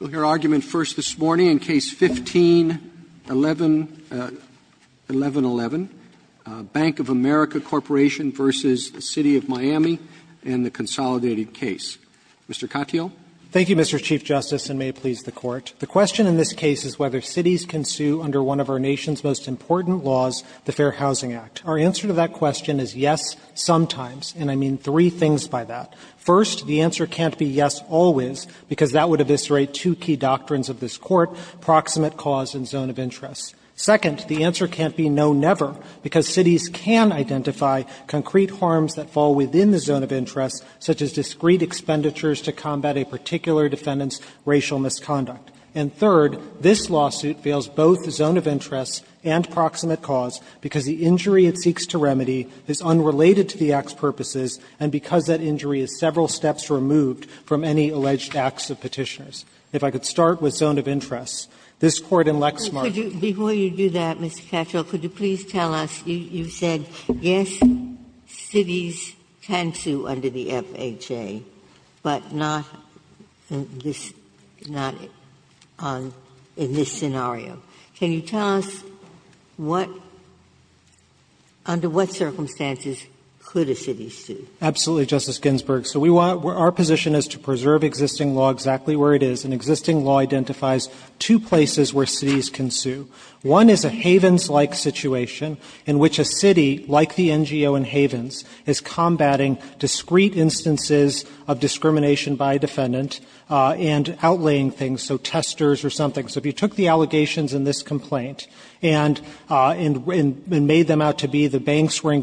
v. the Consolidated Case. Mr. Katyal. Thank you, Mr. Chief Justice, and may it please the Court. The question in this case is whether cities can sue under one of our nation's most important laws, the Fair Housing Act. Our answer to that question is yes, sometimes, and I mean three things by that. First, the answer can't be yes, always, because that would have been the only answer. Second, the answer can't be no, never, because cities can identify concrete harms that fall within the zone of interest, such as discrete expenditures to combat a particular defendant's racial misconduct. And third, this lawsuit fails both the zone of interest and proximate cause because the injury it seeks to remedy is unrelated to the act's purposes and because that injury is several steps removed from any alleged acts of petitioners. If I could start with zone of interest, this Court in Lexmark. Ginsburg Before you do that, Mr. Katyal, could you please tell us, you said yes, cities can sue under the FHA, but not in this scenario. Can you tell us what, under what circumstances could a city sue? Katyal Absolutely, Justice Ginsburg. So our position is to preserve existing law exactly where it is, and existing law identifies two places where cities can sue. One is a Havens-like situation in which a city, like the NGO in Havens, is combating discrete instances of discrimination by a defendant and outlaying things, so testers or something. So if you took the allegations in this complaint and made them out to be the banks were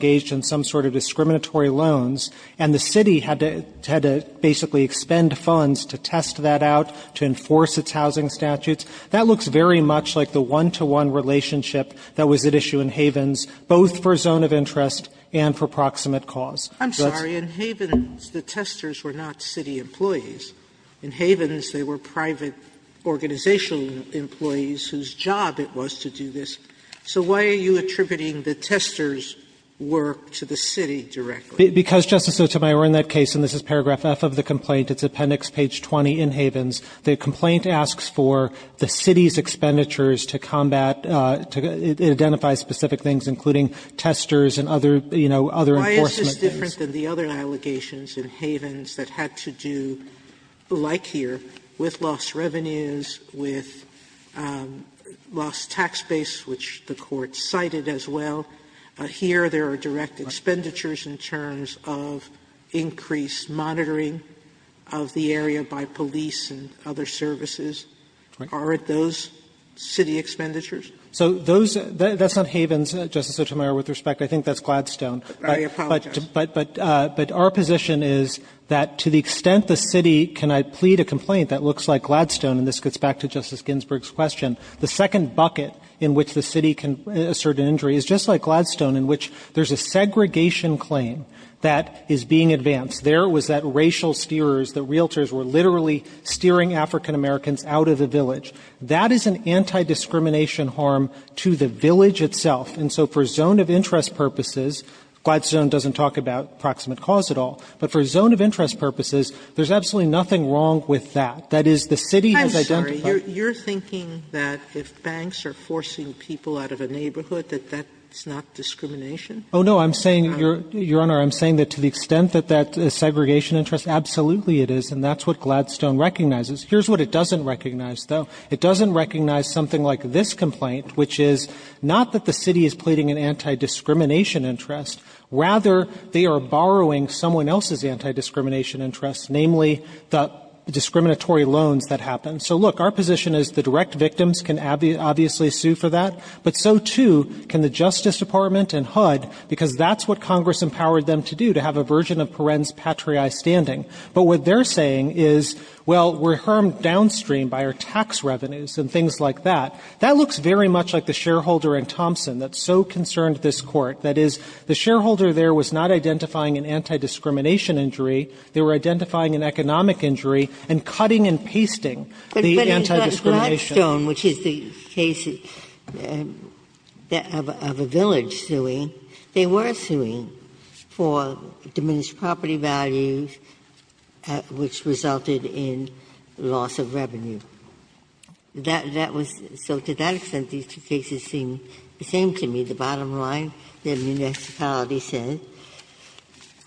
basically expend funds to test that out, to enforce its housing statutes, that looks very much like the one-to-one relationship that was at issue in Havens, both for zone of interest and for proximate cause. Sotomayor I'm sorry. In Havens, the testers were not city employees. In Havens, they were private organizational employees whose job it was to do this. So why are you attributing the testers' work to the city directly? Katyal Because, Justice Sotomayor, in that case, and this is paragraph F of the complaint, it's appendix page 20 in Havens, the complaint asks for the city's expenditures to combat, to identify specific things, including testers and other, you know, other enforcement things. Sotomayor Why is this different than the other allegations in Havens that had to do, like here, with lost revenues, with lost tax base, which the Court cited as well? Here there are direct expenditures in terms of increased monitoring of the area by police and other services. Are it those city expenditures? Katyal So those, that's not Havens, Justice Sotomayor, with respect. I think that's Gladstone. Sotomayor I apologize. Katyal But our position is that to the extent the city can plead a complaint that looks like Gladstone, and this gets back to Justice Ginsburg's question, the second bucket in which the city can assert an injury is just like Gladstone, in which there's a segregation claim that is being advanced. There was that racial steers, the realtors were literally steering African-Americans out of the village. That is an anti-discrimination harm to the village itself. And so for zone of interest purposes, Gladstone doesn't talk about proximate cause at all, but for zone of interest purposes, there's absolutely nothing wrong with that. That is, the city has identified. Sotomayor, you're thinking that if banks are forcing people out of a neighborhood, that that's not discrimination? Katyal Oh, no. I'm saying, Your Honor, I'm saying that to the extent that that is segregation interest, absolutely it is, and that's what Gladstone recognizes. Here's what it doesn't recognize, though. It doesn't recognize something like this complaint, which is not that the city is pleading an anti-discrimination interest. Rather, they are borrowing someone else's anti-discrimination interest, namely the discriminatory loans that happen. So, look, our position is the direct victims can obviously sue for that, but so, too, can the Justice Department and HUD, because that's what Congress empowered them to do, to have a version of parens patriae standing. But what they're saying is, well, we're harmed downstream by our tax revenues and things like that. That looks very much like the shareholder in Thompson that so concerned this court. That is, the shareholder there was not identifying an anti-discrimination injury. They were identifying an economic injury and cutting and pasting the anti-discrimination. Ginsburg. But in Gladstone, which is the case of a village suing, they were suing for diminished property values, which resulted in loss of revenue. That was so, to that extent, these two cases seem the same to me. The bottom line, the municipality says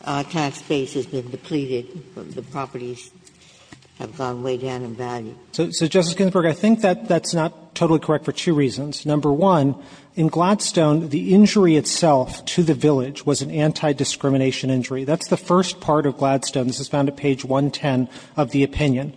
our tax base has been depleted. The properties have gone way down in value. So, Justice Ginsburg, I think that that's not totally correct for two reasons. Number one, in Gladstone, the injury itself to the village was an anti-discrimination injury. That's the first part of Gladstone. This is found at page 110 of the opinion.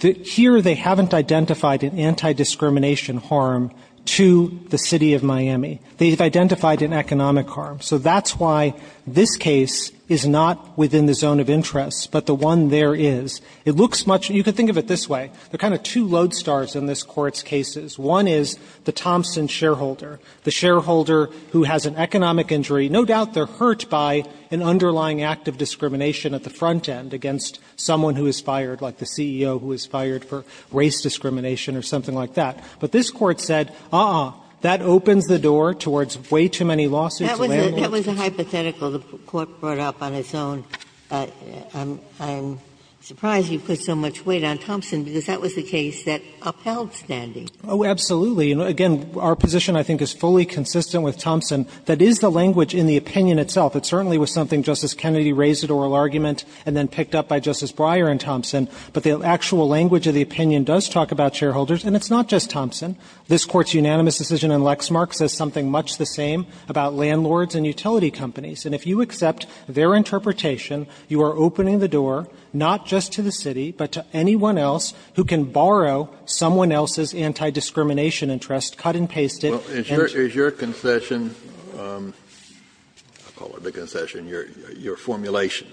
Here, they haven't identified an anti-discrimination harm to the City of Miami. They've identified an economic harm. So that's why this case is not within the zone of interest, but the one there is. It looks much – you can think of it this way. There are kind of two lodestars in this Court's cases. One is the Thompson shareholder, the shareholder who has an economic injury. No doubt they're hurt by an underlying act of discrimination at the front end against someone who is fired, like the CEO who is fired for race discrimination or something like that. But this Court said, uh-uh, that opens the door towards way too many lawsuits and layoffs. Ginsburg. That was a hypothetical the Court brought up on its own. I'm surprised you put so much weight on Thompson, because that was a case that upheld standing. Oh, absolutely. And, again, our position, I think, is fully consistent with Thompson. That is the language in the opinion itself. It certainly was something Justice Kennedy raised at oral argument and then picked up by Justice Breyer and Thompson. But the actual language of the opinion does talk about shareholders. And it's not just Thompson. This Court's unanimous decision in Lexmark says something much the same about landlords and utility companies. And if you accept their interpretation, you are opening the door not just to the city, but to anyone else who can borrow someone else's anti-discrimination interest, cut and paste it, and to the city. Kennedy, is your concession, I'll call it the concession, your formulation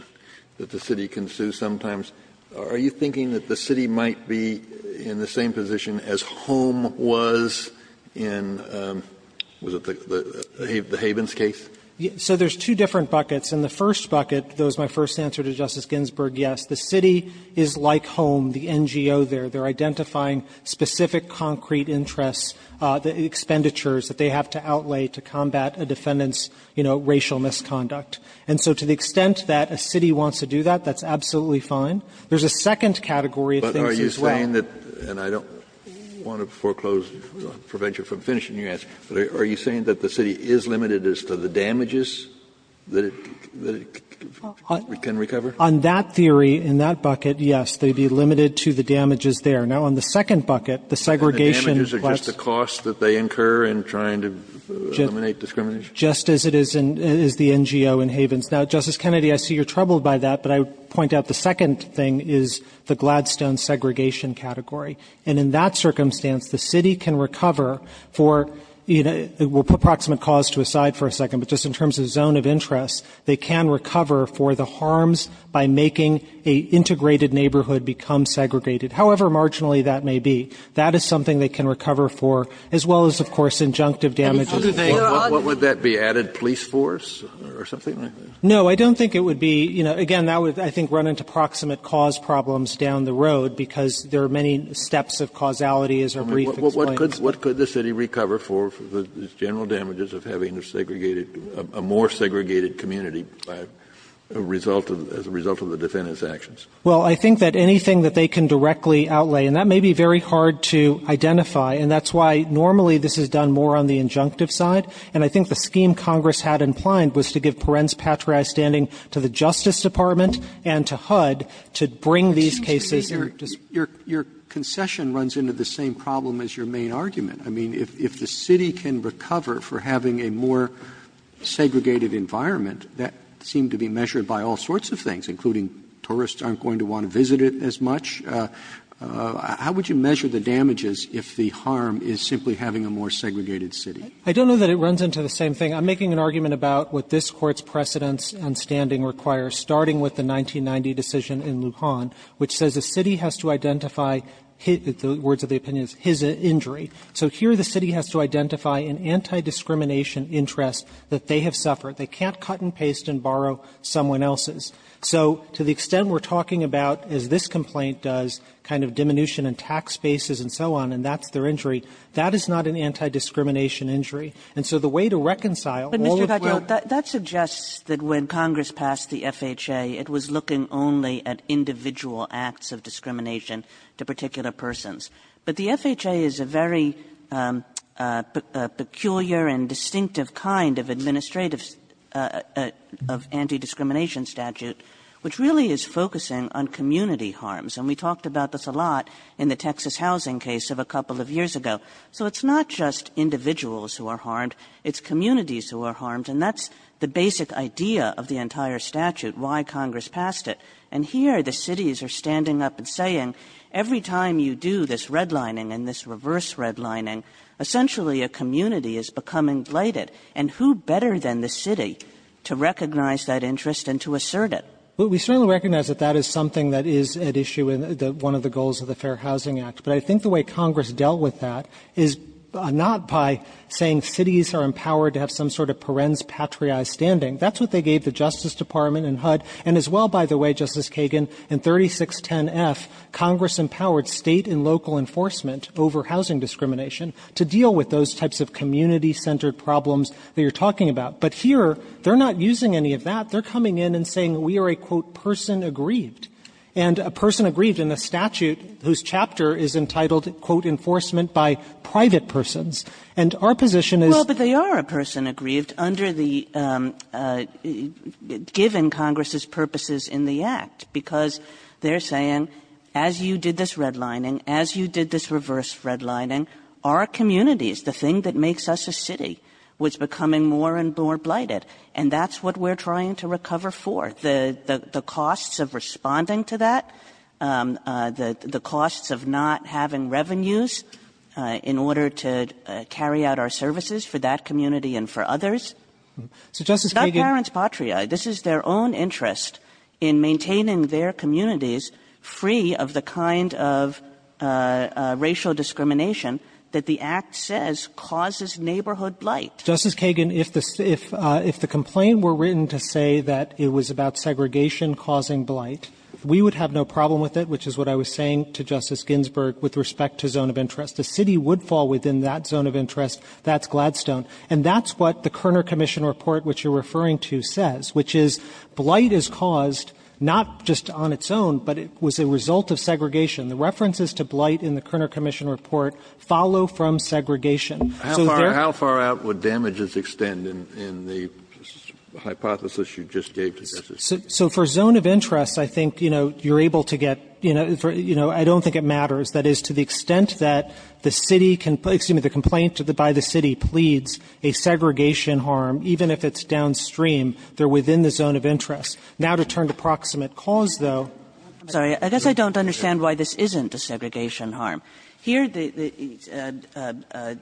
that the city can sue sometimes, are you thinking that the city might be in the same position as HOME was in, was it the Havens case? So there's two different buckets. In the first bucket, that was my first answer to Justice Ginsburg, yes. The city is like HOME, the NGO there. They're identifying specific concrete interests, the expenditures that they have to outlay to combat a defendant's, you know, racial misconduct. And so to the extent that a city wants to do that, that's absolutely fine. There's a second category of things as well. Kennedy, are you saying that, and I don't want to foreclose, prevent you from finishing your answer, but are you saying that the city is limited as to the damages that it can recover? On that theory, in that bucket, yes, they'd be limited to the damages there. Now, on the second bucket, the segregation plus the costs that they incur in trying to eliminate discrimination. Just as it is in the NGO in Havens. Now, Justice Kennedy, I see you're troubled by that, but I would point out the second thing is the Gladstone segregation category. And in that circumstance, the city can recover for, you know, we'll put proximate cause to the side for a second, but just in terms of zone of interest, they can recover for the harms by making an integrated neighborhood become segregated, however marginally that may be. That is something they can recover for, as well as, of course, injunctive damages. Kennedy, what would that be, added police force or something? No, I don't think it would be, you know, again, that would, I think, run into proximate cause problems down the road, because there are many steps of causality, as our brief explains. Kennedy, what could the city recover for the general damages of having a segregated or more segregated community as a result of the defendant's actions? Well, I think that anything that they can directly outlay, and that may be very hard to identify, and that's why normally this is done more on the injunctive side. And I think the scheme Congress had in mind was to give perens patriae standing to the Justice Department and to HUD to bring these cases and just to make sure that they're not going to be used as an excuse for the defendant's actions. I mean, if the city can recover for having a more segregated environment, that seemed to be measured by all sorts of things, including tourists aren't going to want to visit it as much. How would you measure the damages if the harm is simply having a more segregated city? I don't know that it runs into the same thing. I'm making an argument about what this Court's precedence on standing requires, starting with the 1990 decision in Lujan, which says the city has to identify his – the words of the opinion is his injury. So here the city has to identify an anti-discrimination interest that they have suffered. They can't cut and paste and borrow someone else's. So to the extent we're talking about, as this complaint does, kind of diminution in tax bases and so on, and that's their injury, that is not an anti-discrimination injury. And so the way to reconcile all of the other – But, Mr. Cottrell, that suggests that when Congress passed the FHA, it was looking only at individual acts of discrimination to particular persons. But the FHA is a very peculiar and distinctive kind of administrative of anti-discrimination statute, which really is focusing on community harms. And we talked about this a lot in the Texas housing case of a couple of years ago. So it's not just individuals who are harmed. It's communities who are harmed. And that's the basic idea of the entire statute, why Congress passed it. And here the cities are standing up and saying, every time you do this redlining and this reverse redlining, essentially a community is becoming blighted. And who better than the city to recognize that interest and to assert it? Well, we certainly recognize that that is something that is at issue in one of the goals of the Fair Housing Act. But I think the way Congress dealt with that is not by saying cities are empowered to have some sort of parens patriae standing. That's what they gave the Justice Department and HUD. And as well, by the way, Justice Kagan, in 3610F, Congress empowered State and local enforcement over housing discrimination to deal with those types of community-centered problems that you're talking about. But here, they're not using any of that. They're coming in and saying we are a, quote, person aggrieved. And a person aggrieved in a statute whose chapter is entitled, quote, enforcement by private persons. And our position is that they are a person aggrieved under the – given Congress's purposes in the Act, because they're saying, as you did this redlining, as you did this reverse redlining, our communities, the thing that makes us a city, was becoming more and more blighted. And that's what we're trying to recover for. The costs of responding to that, the costs of not having revenues in order to carry out our services for that community and for others. It's not parents patriae. This is their own interest in maintaining their communities free of the kind of racial discrimination that the Act says causes neighborhood blight. Justice Kagan, if the complaint were written to say that it was about segregation causing blight, we would have no problem with it, which is what I was saying to Justice Ginsburg with respect to zone of interest. The city would fall within that zone of interest. That's Gladstone. And that's what the Kerner Commission report, which you're referring to, says, which is blight is caused not just on its own, but it was a result of segregation. The references to blight in the Kerner Commission report follow from segregation. Kennedy, how far out would damages extend in the hypothesis you just gave to Justice Kagan? So for zone of interest, I think, you know, you're able to get, you know, I don't think it matters. That is, to the extent that the city can please, excuse me, the complaint by the city pleads a segregation harm, even if it's downstream, they're within the zone of interest. Now, to turn to proximate cause, though. I'm sorry. I guess I don't understand why this isn't a segregation harm. Here, the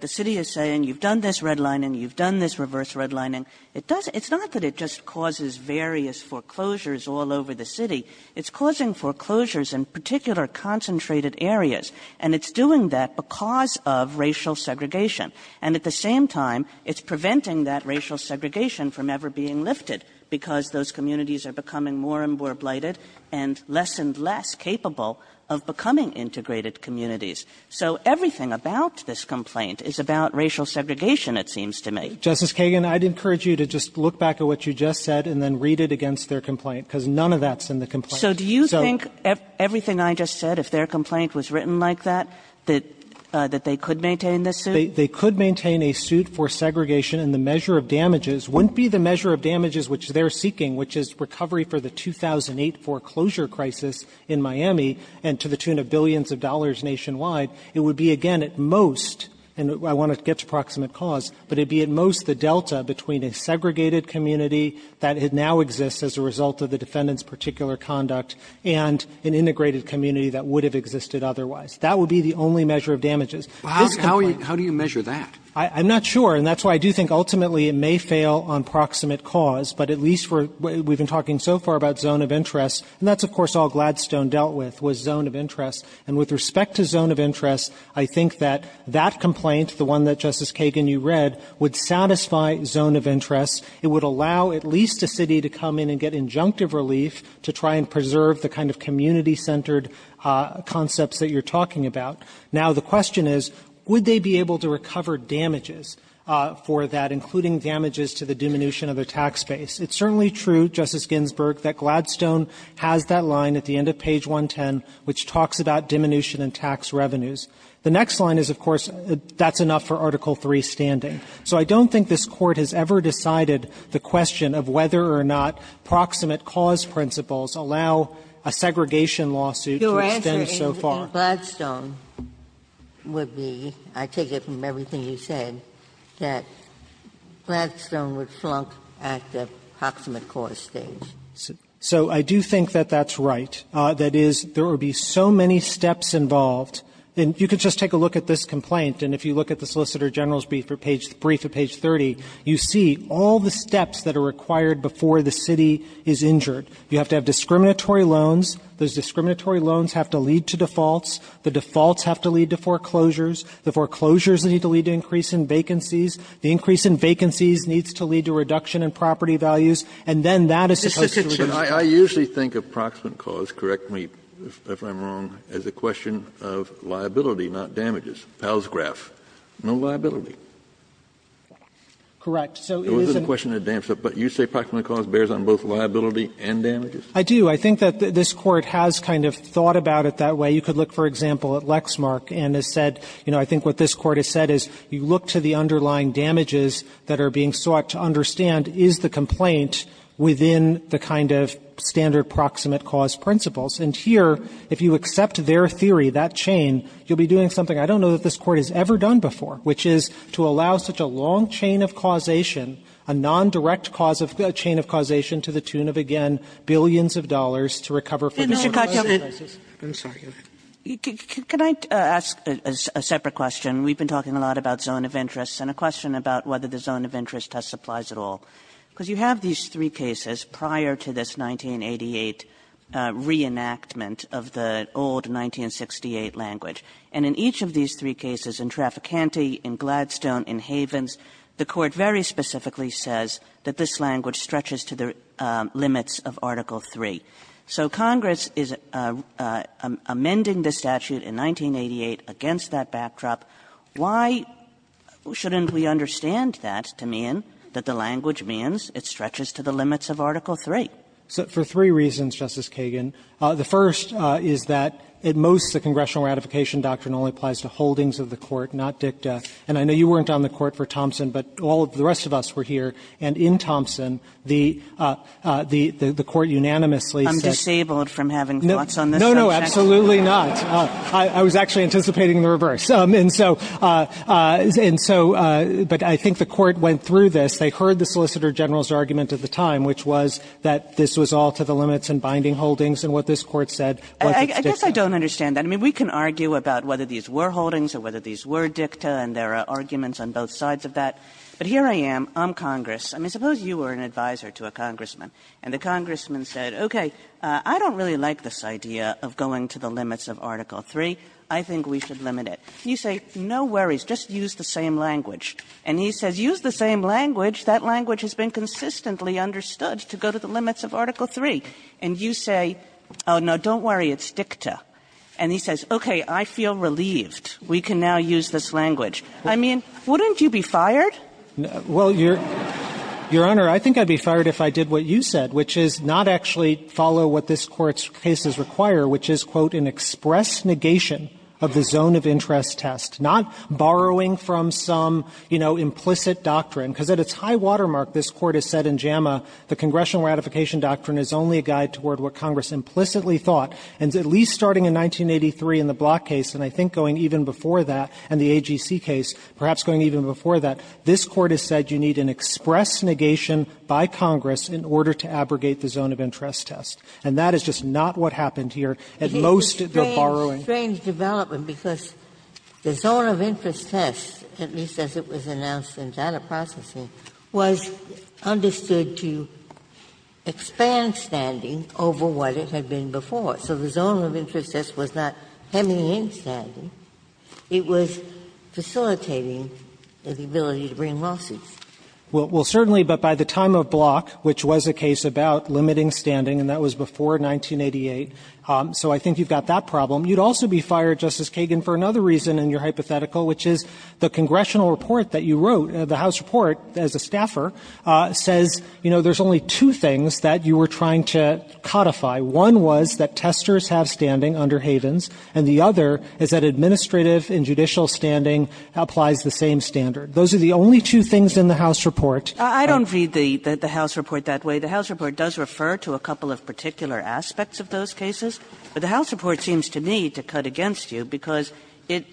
city is saying you've done this redlining, you've done this reverse redlining. It's not that it just causes various foreclosures all over the city. It's causing foreclosures in particular concentrated areas. And it's doing that because of racial segregation. And at the same time, it's preventing that racial segregation from ever being lifted because those communities are becoming more and more blighted and less and less capable of becoming integrated communities. So everything about this complaint is about racial segregation, it seems to me. Justice Kagan, I'd encourage you to just look back at what you just said and then read it against their complaint, because none of that's in the complaint. So do you think everything I just said, if their complaint was written like that, that they could maintain this suit? They could maintain a suit for segregation, and the measure of damages wouldn't be the measure of damages which they're seeking, which is recovery for the 2008 foreclosure crisis in Miami, and to the tune of billions of dollars nationwide. It would be, again, at most, and I want to get to proximate cause, but it would be at most the delta between a segregated community that now exists as a result of the defendant's particular conduct and an integrated community that would have existed otherwise. That would be the only measure of damages. This complaint How do you measure that? I'm not sure, and that's why I do think ultimately it may fail on proximate cause, but at least we've been talking so far about zone of interest, and that's of course all Gladstone dealt with, was zone of interest. And with respect to zone of interest, I think that that complaint, the one that, Justice Kagan, you read, would satisfy zone of interest. It would allow at least a city to come in and get injunctive relief to try and preserve the kind of community-centered concepts that you're talking about. Now, the question is, would they be able to recover damages for that, including damages to the diminution of their tax base? It's certainly true, Justice Ginsburg, that Gladstone has that line at the end of page 110, which talks about diminution and tax revenues. The next line is, of course, that's enough for Article III standing. So I don't think this Court has ever decided the question of whether or not proximate cause principles allow a segregation lawsuit to extend so far. Ginsburg, I think Gladstone would be, I take it from everything you said, that Gladstone would flunk at the proximate cause stage. So I do think that that's right. That is, there would be so many steps involved, and you could just take a look at this complaint, and if you look at the Solicitor General's brief at page 30, you see all the steps that are required before the city is injured. You have to have discriminatory loans. Those discriminatory loans have to lead to defaults. The defaults have to lead to foreclosures. The foreclosures need to lead to increase in vacancies. The increase in vacancies needs to lead to reduction in property values. And then that is supposed to reduce. Kennedy, I usually think of proximate cause, correct me if I'm wrong, as a question of liability, not damages. Palsgraf, no liability. Correct. So it is a question of damages. But you say proximate cause bears on both liability and damages? I do. I think that this Court has kind of thought about it that way. You could look, for example, at Lexmark, and it said, you know, I think what this Court has said is you look to the underlying damages that are being sought to understand, is the complaint within the kind of standard proximate cause principles? And here, if you accept their theory, that chain, you'll be doing something I don't know that this Court has ever done before, which is to allow such a long chain of causation, a nondirect cause of chain of causation to the tune of, again, billions of dollars to recover for the loan. Kagan. I'm sorry. Go ahead. Kagan. Can I ask a separate question? We've been talking a lot about zone of interest and a question about whether the zone of interest test applies at all, because you have these three cases prior to this 1988 reenactment of the old 1968 language. And in each of these three cases, in Traficante, in Gladstone, in Havens, the Court very specifically says that this language stretches to the limits of Article III. So Congress is amending the statute in 1988 against that backdrop. Why shouldn't we understand that to mean that the language means it stretches to the limits of Article III? So for three reasons, Justice Kagan. The first is that at most the congressional ratification doctrine only applies to holdings of the Court, not dicta. And I know you weren't on the Court for Thompson, but all of the rest of us were here, and in Thompson, the Court unanimously says that the Court went through this. They heard the Solicitor General's argument at the time, which was that this was all to the limits and binding holdings, and what this Court said was its dicta. I guess I don't understand that. I mean, we can argue about whether these were holdings or whether these were dicta, and that's fine. There are arguments on both sides of that. But here I am. I'm Congress. I mean, suppose you were an advisor to a congressman, and the congressman said, okay, I don't really like this idea of going to the limits of Article III. I think we should limit it. You say, no worries. Just use the same language. And he says, use the same language? That language has been consistently understood to go to the limits of Article III. And you say, oh, no, don't worry. It's dicta. And he says, okay, I feel relieved. We can now use this language. I mean, wouldn't you be fired? Katyala, Your Honor, I think I'd be fired if I did what you said, which is not actually follow what this Court's cases require, which is, quote, an express negation of the zone of interest test, not borrowing from some, you know, implicit doctrine. Because at its high watermark, this Court has said in JAMA the congressional ratification doctrine is only a guide toward what Congress implicitly thought, and at least starting in 1983 in the Block case, and I think going even before that, and the AGC case, perhaps going even before that, this Court has said you need an express negation by Congress in order to abrogate the zone of interest test. And that is just not what happened here. At most, they're borrowing. Ginsburg. It is a strange development, because the zone of interest test, at least as it was announced in data processing, was understood to expand standing over what it had been before. So the zone of interest test was not hemming in standing. It was facilitating the ability to bring lawsuits. Well, certainly, but by the time of Block, which was a case about limiting standing, and that was before 1988, so I think you've got that problem, you'd also be fired, Justice Kagan, for another reason in your hypothetical, which is the congressional report that you wrote, the House report, as a staffer, says, you know, there's only two things that you were trying to codify. One was that testers have standing under Havens, and the other is that administrative and judicial standing applies the same standard. Those are the only two things in the House report. I don't read the House report that way. The House report does refer to a couple of particular aspects of those cases. But the House report seems to me to cut against you, because it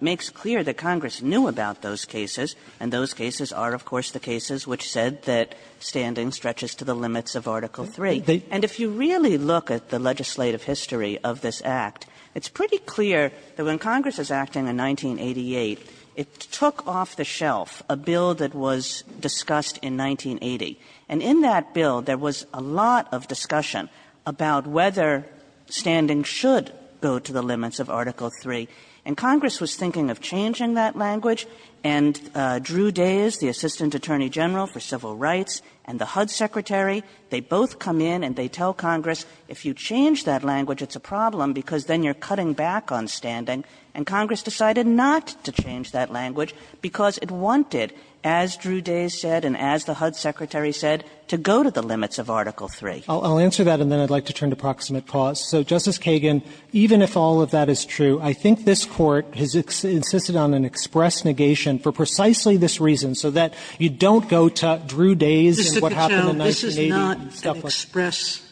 makes clear that Congress knew about those cases, and those cases are, of course, the cases which said that standing stretches to the limits of Article III. And if you really look at the legislative history of this Act, it's pretty clear that when Congress is acting in 1988, it took off the shelf a bill that was discussed in 1980. And in that bill, there was a lot of discussion about whether standing should go to the limits of Article III. And Congress was thinking of changing that language, and Drew Dayes, the Assistant Attorney General for Civil Rights, and the HUD Secretary, they both come in and say, and they tell Congress, if you change that language, it's a problem, because then you're cutting back on standing. And Congress decided not to change that language, because it wanted, as Drew Dayes said and as the HUD Secretary said, to go to the limits of Article III. Katyal, even if all of that is true, I think this Court has insisted on an express negation for precisely this reason, so that you don't go to Drew Dayes and what happened in 1980 and stuff like that. Sotomayor, I think it's important to stress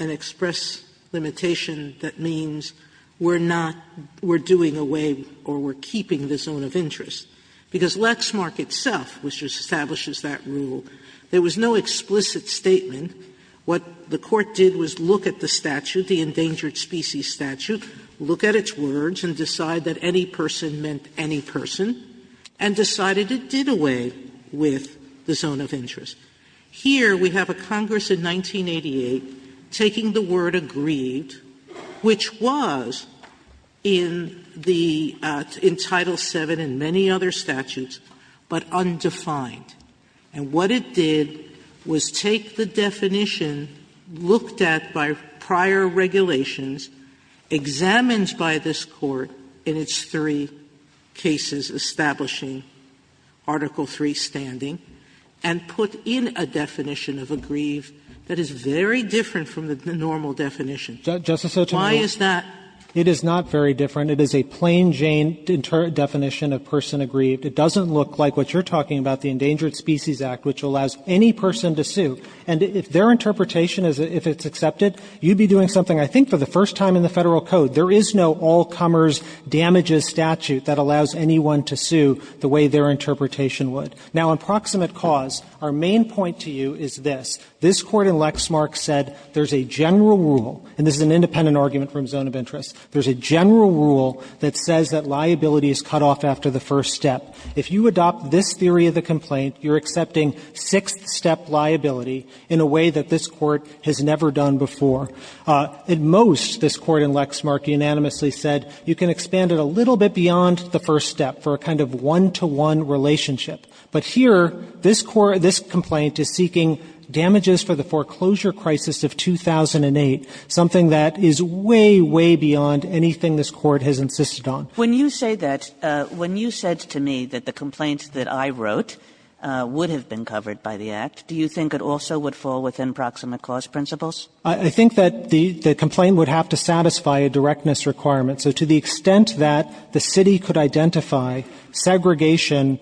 and express limitation that means we're not, we're doing away or we're keeping the zone of interest, because Lexmark itself, which establishes that rule, there was no explicit statement. What the Court did was look at the statute, the Endangered Species Statute, look at its words and decide that any person meant any person, and decided it did away with the definition of a grieve. And the Court in 1988, taking the word aggrieved, which was in the Title VII and many other statutes, but undefined, and what it did was take the definition looked at by prior regulations, examined by this Court in its three cases establishing Article III standing, and put in a definition of aggrieved that is very different from the normal definition. Why is that? Katyal, it is not very different. It is a plain-Jane definition of person aggrieved. It doesn't look like what you're talking about, the Endangered Species Act, which allows any person to sue. And if their interpretation is, if it's accepted, you'd be doing something I think for the first time in the Federal Code. There is no all-comers, damages statute that allows anyone to sue the way their interpretation would. Now, in proximate cause, our main point to you is this. This Court in Lexmark said there's a general rule, and this is an independent argument from zone of interest, there's a general rule that says that liability is cut off after the first step. If you adopt this theory of the complaint, you're accepting sixth-step liability in a way that this Court has never done before. At most, this Court in Lexmark unanimously said, you can expand it a little bit beyond the first step for a kind of one-to-one relationship. But here, this Court, this complaint is seeking damages for the foreclosure crisis of 2008, something that is way, way beyond anything this Court has insisted on. Kagan. When you say that, when you said to me that the complaint that I wrote would have been covered by the Act, do you think it also would fall within proximate cause principles? I think that the complaint would have to satisfy a directness requirement. So to the extent that the city could identify segregation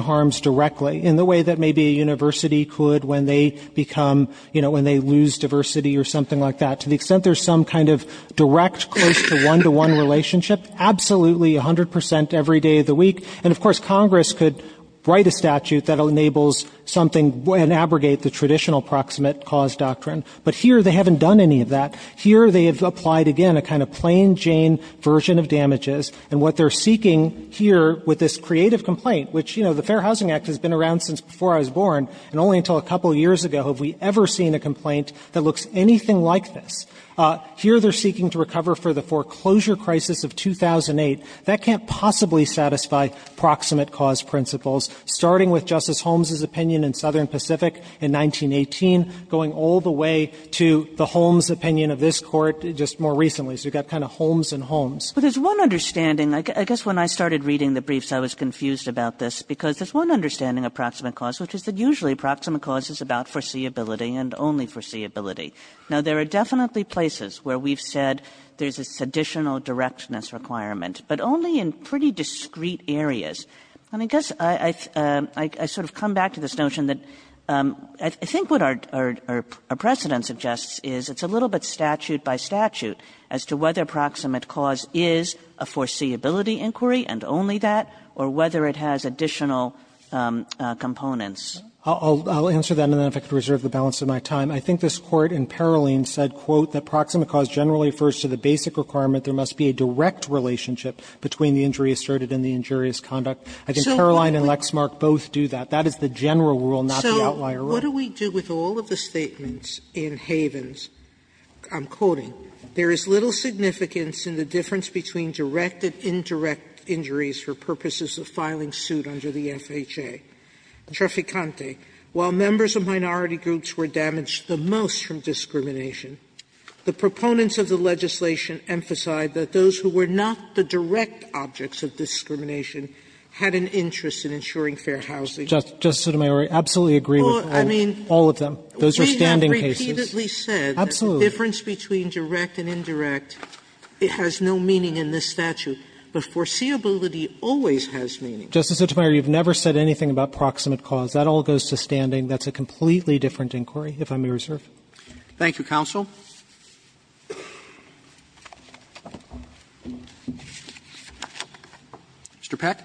harms directly in the way that maybe a university could when they become, you know, when they lose diversity or something like that, to the extent there's some kind of direct close to one-to-one relationship, absolutely, 100 percent every day of the week, and of course, Congress could write a statute that enables something and abrogate the traditional proximate cause doctrine. But here, they haven't done any of that. Here, they have applied, again, a kind of plain-Jane version of damages, and what they're seeking here with this creative complaint, which, you know, the Fair Housing Act has been around since before I was born, and only until a couple years ago have we ever seen a complaint that looks anything like this. Here, they're seeking to recover for the foreclosure crisis of 2008. That can't possibly satisfy proximate cause principles, starting with Justice Holmes' opinion in Southern Pacific in 1918, going all the way to the Holmes opinion of this Court just more recently. So you've got kind of Holmes and Holmes. Kagan. Kagan. Kagan. Kagan. Kagan. I guess when I started reading the briefs I was confused about this because there's one understanding of proximate cause, which is that usually approximate cause is about foreseeability and only foreseeability. Now, there are definitely places where we've said there's a seditional directness requirement. But only in pretty discrete areas. I mean, I guess I sort of come back to this notion that I think what our precedent suggests is it's a little bit statute by statute as to whether proximate cause is a foreseeability inquiry and only that, or whether it has additional components. I'll answer that, and then if I could reserve the balance of my time. I think this Court in Paroline said, quote, I think Paroline and Lexmark both do that. That is the general rule, not the outlier rule. Sotomayor, so what do we do with all of the statements in Havens? I'm quoting. There is little significance in the difference between direct and indirect injuries for purposes of filing suit under the FHA. Treficante, while members of minority groups were damaged the most from discrimination, the proponents of the legislation emphasize that those who were not the direct objects of discrimination had an interest in ensuring fair housing. Justices Sotomayor, I absolutely agree with all of them. Those are standing cases. We have repeatedly said that the difference between direct and indirect, it has no meaning in this statute, but foreseeability always has meaning. Justice Sotomayor, you've never said anything about proximate cause. That all goes to standing. That's a completely different inquiry, if I may reserve. Roberts. Thank you, counsel. Mr. Peck.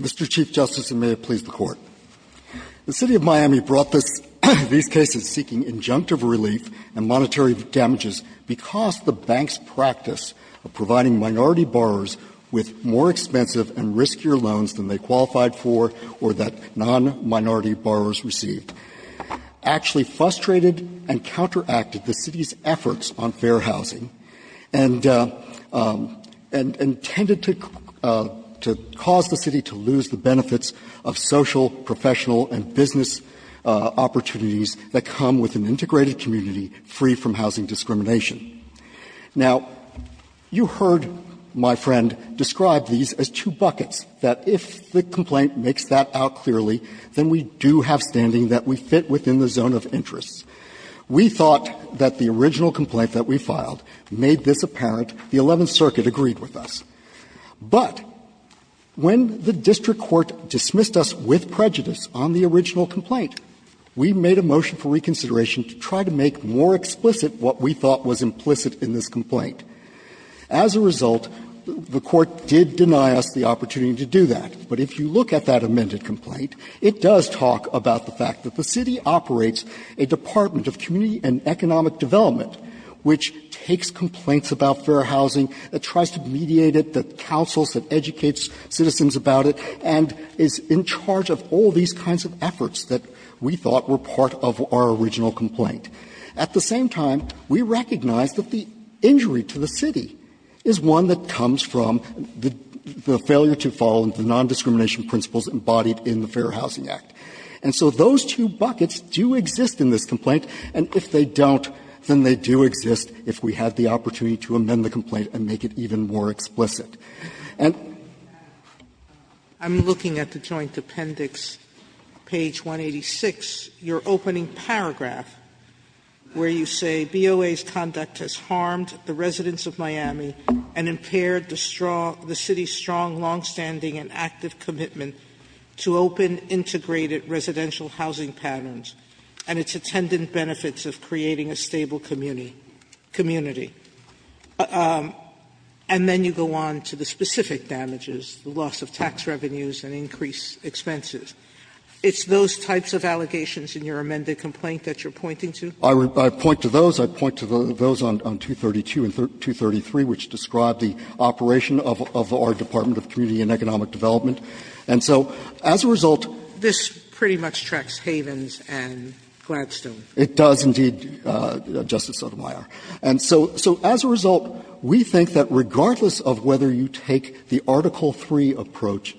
Mr. Chief Justice, and may it please the Court. The City of Miami brought these cases seeking injunctive relief and monetary damages because the bank's practice of providing minority borrowers with more expensive and riskier loans than they qualified for or that non-minority borrowers received actually frustrated and counteracted the city's efforts on fair housing and intended to cause the city to lose the benefits of social, professional and business opportunities that come with an integrated community free from housing discrimination. Now, you heard my friend describe these as two buckets, that if the complaint makes that out clearly, then we do have standing that we fit within the zone of interest. We thought that the original complaint that we filed made this apparent. The Eleventh Circuit agreed with us. But when the district court dismissed us with prejudice on the original complaint, we made a motion for reconsideration to try to make more explicit what we thought was implicit in this complaint. As a result, the Court did deny us the opportunity to do that. But if you look at that amended complaint, it does talk about the fact that the city operates a department of community and economic development which takes complaints about fair housing, that tries to mediate it, that counsels, that educates citizens about it, and is in charge of all these kinds of efforts that we thought were part of our original complaint. At the same time, we recognize that the injury to the city is one that comes from the failure to follow the nondiscrimination principles embodied in the Fair Housing Act. And so those two buckets do exist in this complaint, and if they don't, then they do exist if we had the opportunity to amend the complaint and make it even more explicit. And the other thing is that I'm looking at the joint appendix, page 186, your opening paragraph, where you say BOA's conduct has harmed the residents of Miami and impaired the city's strong, longstanding, and active commitment to open integrated residential housing patterns and its attendant benefits of creating a stable community. And then you go on to the specific damages, the loss of tax revenues and increased expenses. It's those types of allegations in your amended complaint that you're pointing to? I point to those. I point to those on 232 and 233, which describe the operation of our Department of Community and Economic Development. And so as a result, this pretty much tracks Havens and Gladstone. It does, indeed, Justice Sotomayor. And so as a result, we think that regardless of whether you take the Article III approach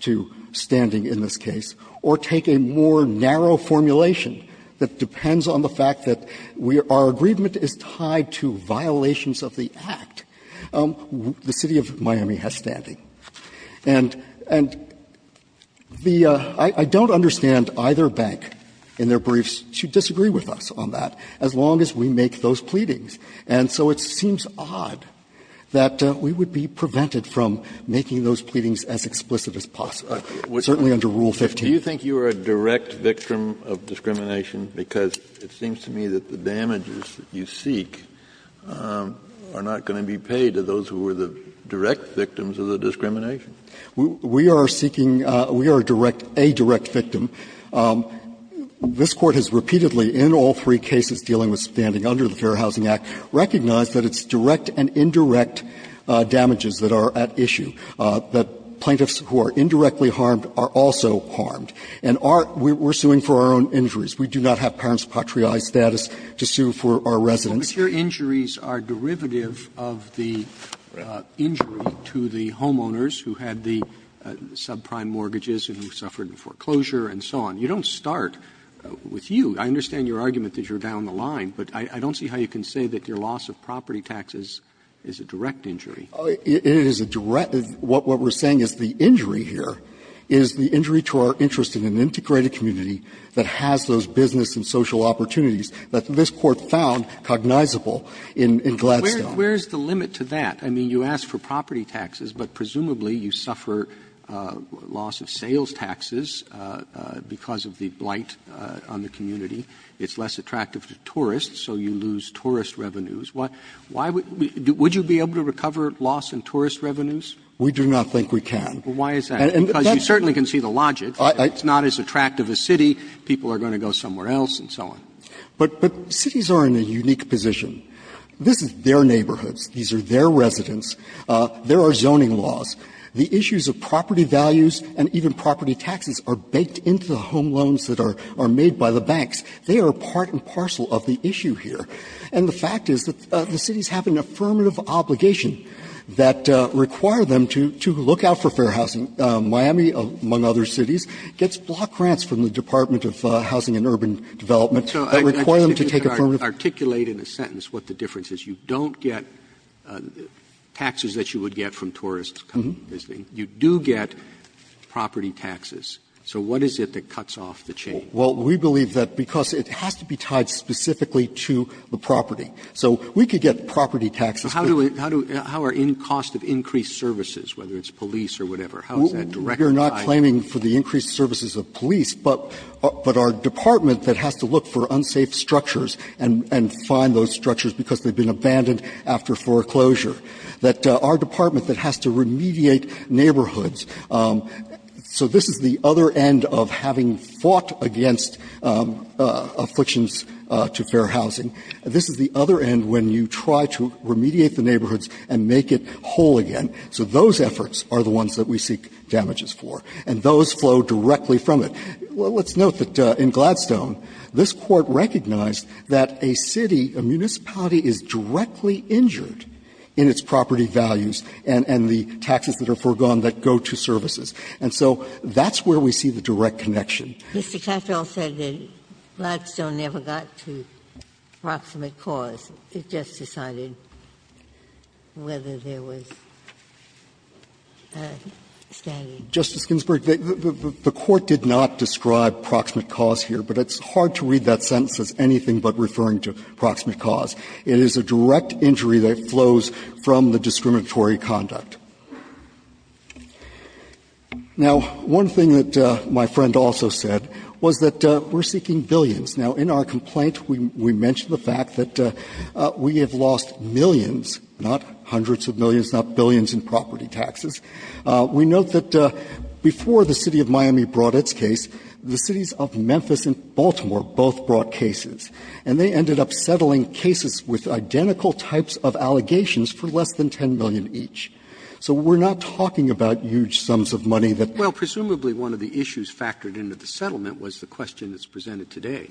to standing in this case, or take a more narrow formulation that depends on the fact that our agreement is tied to violations of the Act, the city of Miami has standing. And the – I don't understand either bank in their briefs to disagree with us on that, as long as we make those pleadings. And so it seems odd that we would be prevented from making those pleadings as explicit as possible, certainly under Rule 15. Kennedy, do you think you are a direct victim of discrimination? Because it seems to me that the damages that you seek are not going to be paid to those who were the direct victims of the discrimination. We are seeking – we are a direct victim. This Court has repeatedly, in all three cases dealing with standing under the Fair Housing Act, recognized that it's direct and indirect damages that are at issue, that plaintiffs who are indirectly harmed are also harmed. And our – we're suing for our own injuries. We do not have parents' patriae status to sue for our residents. Roberts Well, but your injuries are derivative of the injury to the homeowners who had the subprime mortgages and who suffered foreclosure and so on. You don't start with you. I understand your argument that you're down the line, but I don't see how you can say that your loss of property taxes is a direct injury. It is a direct – what we're saying is the injury here is the injury to our interest in an integrated community that has those business and social opportunities that this Court found cognizable in Gladstone. Where is the limit to that? I mean, you ask for property taxes, but presumably you suffer loss of sales taxes because of the blight on the community. It's less attractive to tourists, so you lose tourist revenues. Why would we – would you be able to recover loss in tourist revenues? We do not think we can. Well, why is that? Because you certainly can see the logic. It's not as attractive a city. People are going to go somewhere else and so on. But cities are in a unique position. This is their neighborhoods. These are their residents. There are zoning laws. The issues of property values and even property taxes are baked into the home loans that are made by the banks. They are part and parcel of the issue here. And the fact is that the cities have an affirmative obligation that require them to look out for fair housing. Miami, among other cities, gets block grants from the Department of Housing and Urban Development that require them to take affirmative loans. Roberts. Roberts. You don't get taxes that you would get from tourists coming and visiting. You do get property taxes. So what is it that cuts off the chain? Well, we believe that because it has to be tied specifically to the property. So we could get property taxes. But how do we – how do – how are in cost of increased services, whether it's police or whatever, how is that directly tied? We are not claiming for the increased services of police, but our department that has to look for unsafe structures and find those structures because they've been abandoned after foreclosure, that our department that has to remediate neighborhoods. So this is the other end of having fought against afflictions to fair housing. This is the other end when you try to remediate the neighborhoods and make it whole again. So those efforts are the ones that we seek damages for. And those flow directly from it. Let's note that in Gladstone, this Court recognized that a city, a municipality is directly injured in its property values and the taxes that are foregone that go to services. And so that's where we see the direct connection. Ginsburg. Mr. Katyal said that Gladstone never got to proximate cause. It just decided whether there was a standard. Justice Ginsburg, the Court did not describe proximate cause here, but it's hard to read that sentence as anything but referring to proximate cause. It is a direct injury that flows from the discriminatory conduct. Now, one thing that my friend also said was that we're seeking billions. Now, in our complaint, we mentioned the fact that we have lost millions, not hundreds of millions, not billions in property taxes. We note that before the City of Miami brought its case, the cities of Memphis and Baltimore both brought cases. And they ended up settling cases with identical types of allegations for less than 10 million each. So we're not talking about huge sums of money that they would have to pay. Roberts. Presumably one of the issues factored into the settlement was the question that's presented today.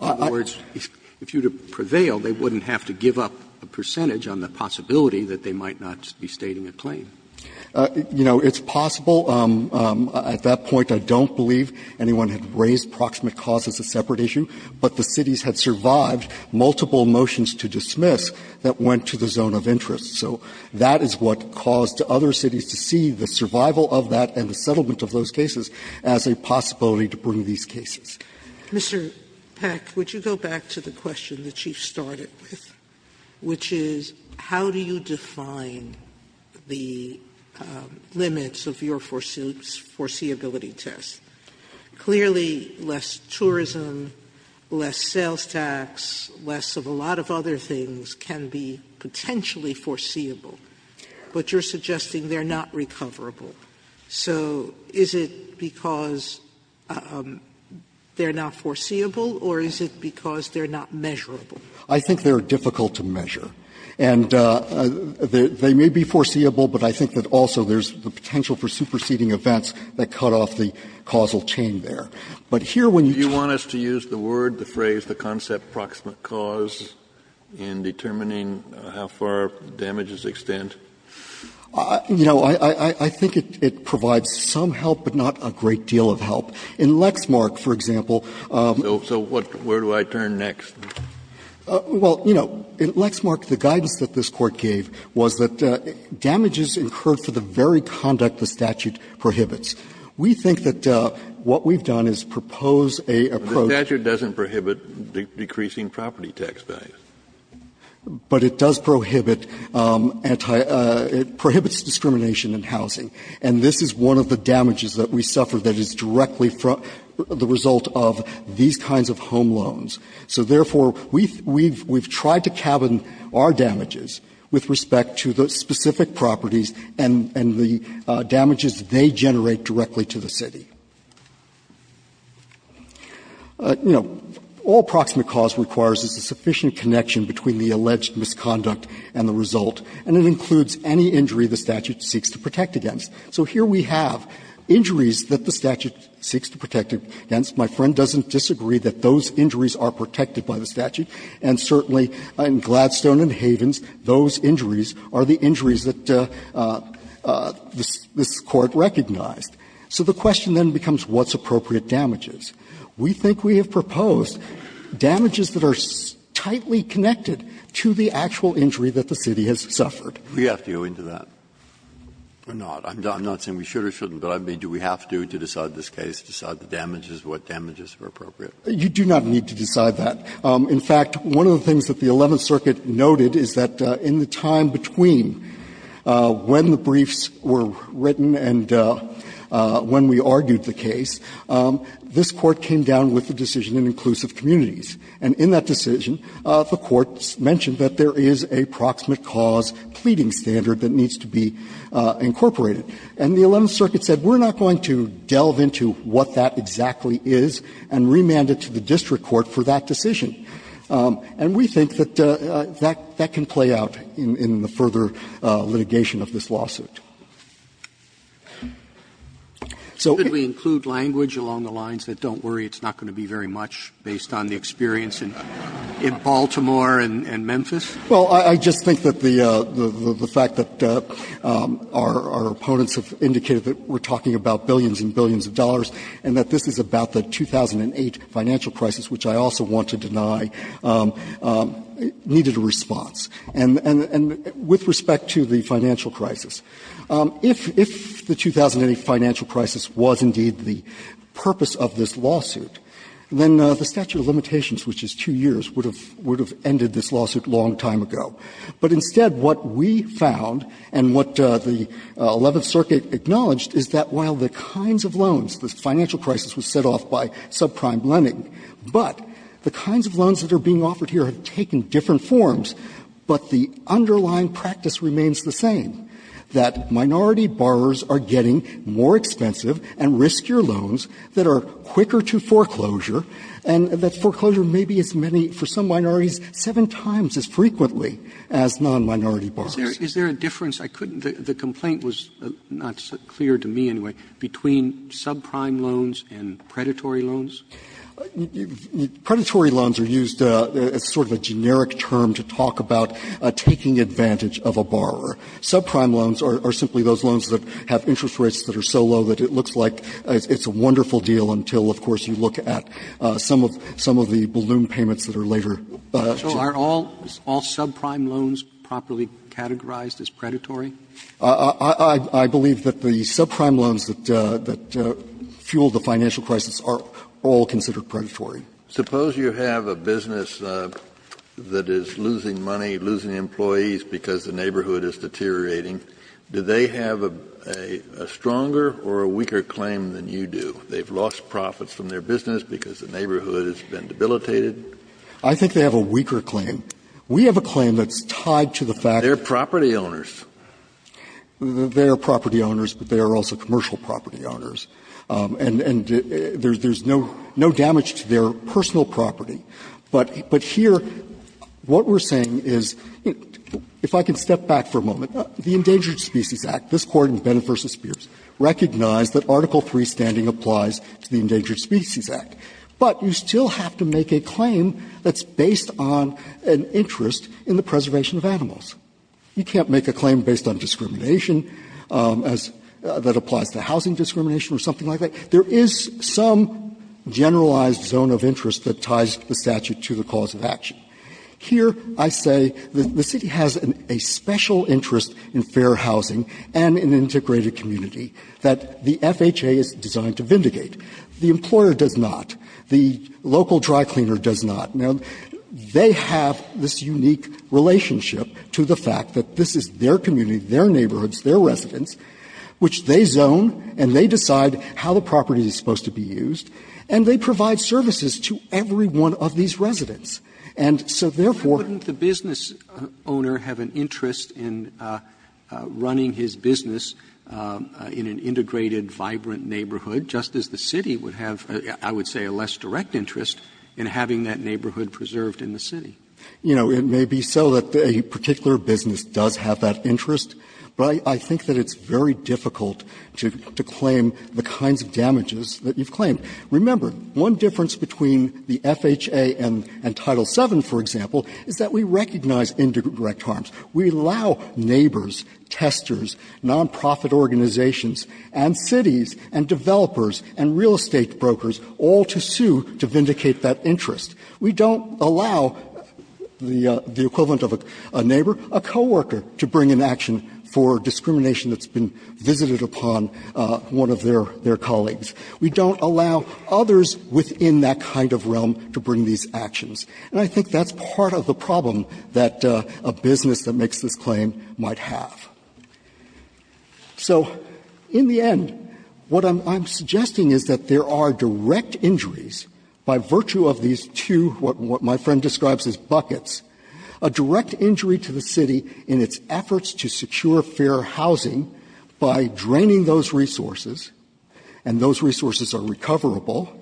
In other words, if you would have prevailed, they wouldn't have to give up a percentage on the possibility that they might not be stating a claim. You know, it's possible. At that point, I don't believe anyone had raised proximate cause as a separate issue, but the cities had survived multiple motions to dismiss that went to the zone of interest. So that is what caused other cities to see the survival of that and the settlement of those cases as a possibility to bring these cases. Sotomayor. Mr. Peck, would you go back to the question the Chief started with, which is how do you define the limits of your foreseeability test? Clearly, less tourism, less sales tax, less of a lot of other things can be potentially foreseeable, but you're suggesting they're not recoverable. So is it because they're not foreseeable, or is it because they're not measurable? I think they're difficult to measure. And they may be foreseeable, but I think that also there's the potential for superseding events that cut off the causal chain there. But here, when you use the word, the phrase, the concept of proximate cause in determining how far damages extend? You know, I think it provides some help, but not a great deal of help. In Lexmark, for example, So where do I turn next? Well, you know, in Lexmark, the guidance that this Court gave was that damages incurred for the very conduct the statute prohibits. We think that what we've done is propose a approach The statute doesn't prohibit decreasing property tax values. But it does prohibit anti- it prohibits discrimination in housing. And this is one of the damages that we suffer that is directly the result of these kinds of home loans. So therefore, we've tried to cabin our damages with respect to the specific properties and the damages they generate directly to the city. You know, all proximate cause requires is a sufficient connection between the alleged misconduct and the result, and it includes any injury the statute seeks to protect against. So here we have injuries that the statute seeks to protect against. My friend doesn't disagree that those injuries are protected by the statute. And certainly, in Gladstone and Havens, those injuries are the injuries that this Court recognized. So the question then becomes what's appropriate damages. We think we have proposed damages that are tightly connected to the actual injury that the city has suffered. Breyer, We have to go into that or not. I'm not saying we should or shouldn't, but I mean, do we have to, to decide this case, decide the damages, what damages are appropriate? You do not need to decide that. In fact, one of the things that the Eleventh Circuit noted is that in the time between when the briefs were written and when we argued the case, this Court came down with the decision in inclusive communities. And in that decision, the Court mentioned that there is a proximate cause pleading standard that needs to be incorporated. And the Eleventh Circuit said, we're not going to delve into what that exactly is and remand it to the district court for that decision. And we think that that can play out in the further litigation of this lawsuit. So if we include language along the lines that don't worry, it's not going to be very much based on the experience in Baltimore and Memphis? Well, I just think that the fact that our opponents have indicated that we're talking about billions and billions of dollars and that this is about the 2008 financial crisis, which I also want to deny, needed a response. And with respect to the financial crisis, if the 2008 financial crisis was indeed the purpose of this lawsuit, then the statute of limitations, which is two years, would have ended this lawsuit a long time ago. But instead, what we found and what the Eleventh Circuit acknowledged is that while the kinds of loans, the financial crisis was set off by subprime lending, but the kinds of loans that are being offered here have taken different forms, but the underlying practice remains the same, that minority borrowers are getting more expensive and riskier loans that are quicker to foreclosure, and that foreclosure may be as many, for some minorities, seven times as frequently as non-minority borrowers. Roberts, is there a difference? I couldn't the complaint was not clear to me anyway, between subprime loans and predatory loans? Predatory loans are used as sort of a generic term to talk about taking advantage of a borrower. Subprime loans are simply those loans that have interest rates that are so low that it looks like it's a wonderful deal until, of course, you look at some of the balloon payments that are later. Roberts, are all subprime loans properly categorized as predatory? I believe that the subprime loans that fuel the financial crisis are all considered predatory. Suppose you have a business that is losing money, losing employees because the neighborhood is deteriorating. Do they have a stronger or a weaker claim than you do? They've lost profits from their business because the neighborhood has been debilitated. I think they have a weaker claim. We have a claim that's tied to the fact that they're property owners. They are property owners, but they are also commercial property owners. And there's no damage to their personal property. But here, what we're saying is, if I can step back for a moment, the Endangered Species Act, this Court in Bennett v. Spears, recognized that Article III standing applies to the Endangered Species Act. But you still have to make a claim that's based on an interest in the preservation of animals. You can't make a claim based on discrimination as that applies to housing discrimination or something like that. There is some generalized zone of interest that ties the statute to the cause of action. Here, I say that the city has a special interest in fair housing and an integrated community that the FHA is designed to vindicate. The employer does not. The local dry cleaner does not. Now, they have this unique relationship to the fact that this is their community, their neighborhoods, their residents, which they zone and they decide how the property is supposed to be used, and they provide services to every one of these residents. And so therefore the business owner have an interest in running his business in an integrated, vibrant neighborhood, just as the city would have, I would say, a less direct interest in having that neighborhood preserved in the city. You know, it may be so that a particular business does have that interest, but I think that it's very difficult to claim the kinds of damages that you've claimed. Remember, one difference between the FHA and Title VII, for example, is that we recognize indirect harms. We allow neighbors, testers, nonprofit organizations, and cities, and developers, and real estate brokers all to sue to vindicate that interest. We don't allow the equivalent of a neighbor, a coworker, to bring an action for discrimination that's been visited upon one of their colleagues. We don't allow others within that kind of realm to bring these actions. And I think that's part of the problem that a business that makes this claim might have. So in the end, what I'm suggesting is that there are direct injuries by virtue of these two, what my friend describes as buckets, a direct injury to the city in its efforts to secure fair housing by draining those resources, and those resources are recoverable,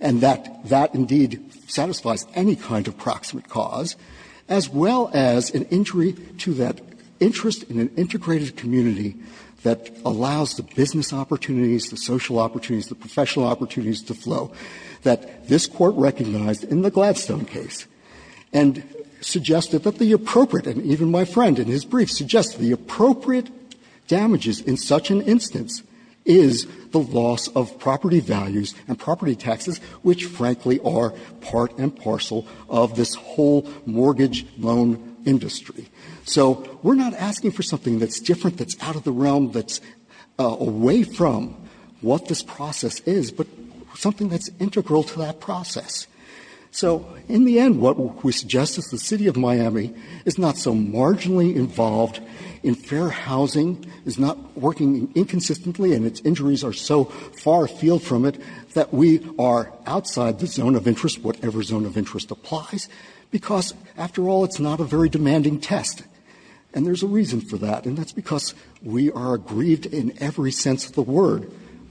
and that that indeed satisfies any kind of proximate cause, as well as an injury to that interest in an integrated community that allows the business opportunities, the social opportunities, the professional opportunities to flow that this Court recognized in the Gladstone case and suggested that the appropriate and even my friend in his brief suggested the appropriate damages in such an instance is the loss of property values and property taxes, which frankly are part and parcel of this whole mortgage loan industry. So we're not asking for something that's different, that's out of the realm, that's away from what this process is, but something that's integral to that process. So in the end, what we suggest is the City of Miami is not so marginally involved in fair housing, is not working inconsistently, and its injuries are so far from it that we are outside the zone of interest, whatever zone of interest applies, because, after all, it's not a very demanding test, and there's a reason for that, and that's because we are aggrieved in every sense of the word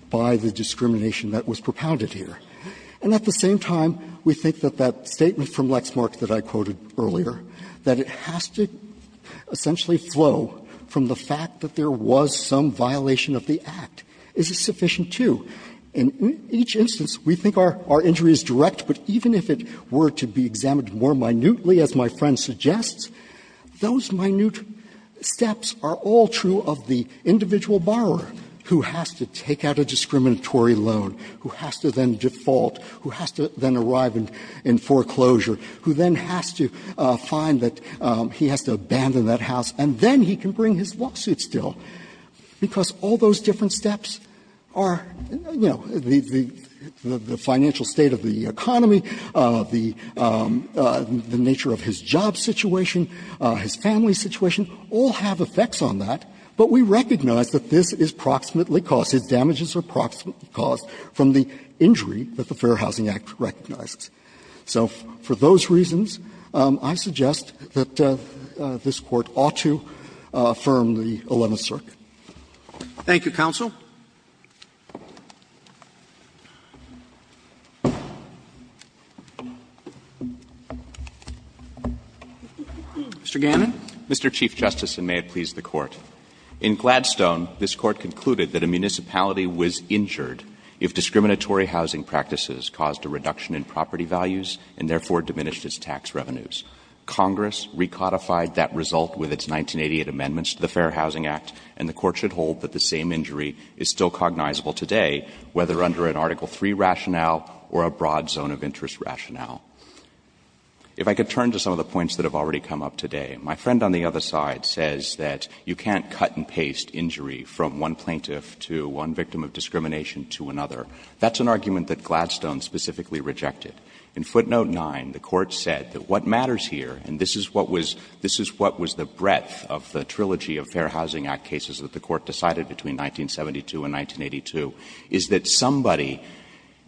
by the discrimination that was propounded here. And at the same time, we think that that statement from Lexmark that I quoted earlier, that it has to essentially flow from the fact that there was some violation of the Act, is sufficient, too. In each instance, we think our injury is direct, but even if it were to be examined more minutely, as my friend suggests, those minute steps are all true of the individual borrower who has to take out a discriminatory loan, who has to then default, who has to then arrive in foreclosure, who then has to find that he has to abandon that house, and then he can bring his lawsuit still, because all the things that he has to do, all those different steps are, you know, the financial state of the economy, the nature of his job situation, his family situation, all have effects on that, but we recognize that this is proximately caused, his damages are proximately caused from the injury that the Fair Housing Act recognizes. So for those reasons, I suggest that this Court ought to affirm the 11th Circuit. Thank you, counsel. Mr. Gannon. Mr. Chief Justice, and may it please the Court. In Gladstone, this Court concluded that a municipality was injured if discriminatory housing practices caused a reduction in property values and therefore diminished its tax revenues. Congress recodified that result with its 1988 amendments to the Fair Housing Act, and the Court should hold that the same injury is still cognizable today, whether under an Article III rationale or a broad zone of interest rationale. If I could turn to some of the points that have already come up today, my friend on the other side says that you can't cut and paste injury from one plaintiff to one victim of discrimination to another. That's an argument that Gladstone specifically rejected. In footnote 9, the Court said that what matters here, and this is what was the breadth of the Trilogy of Fair Housing Act cases that the Court decided between 1972 and 1982, is that somebody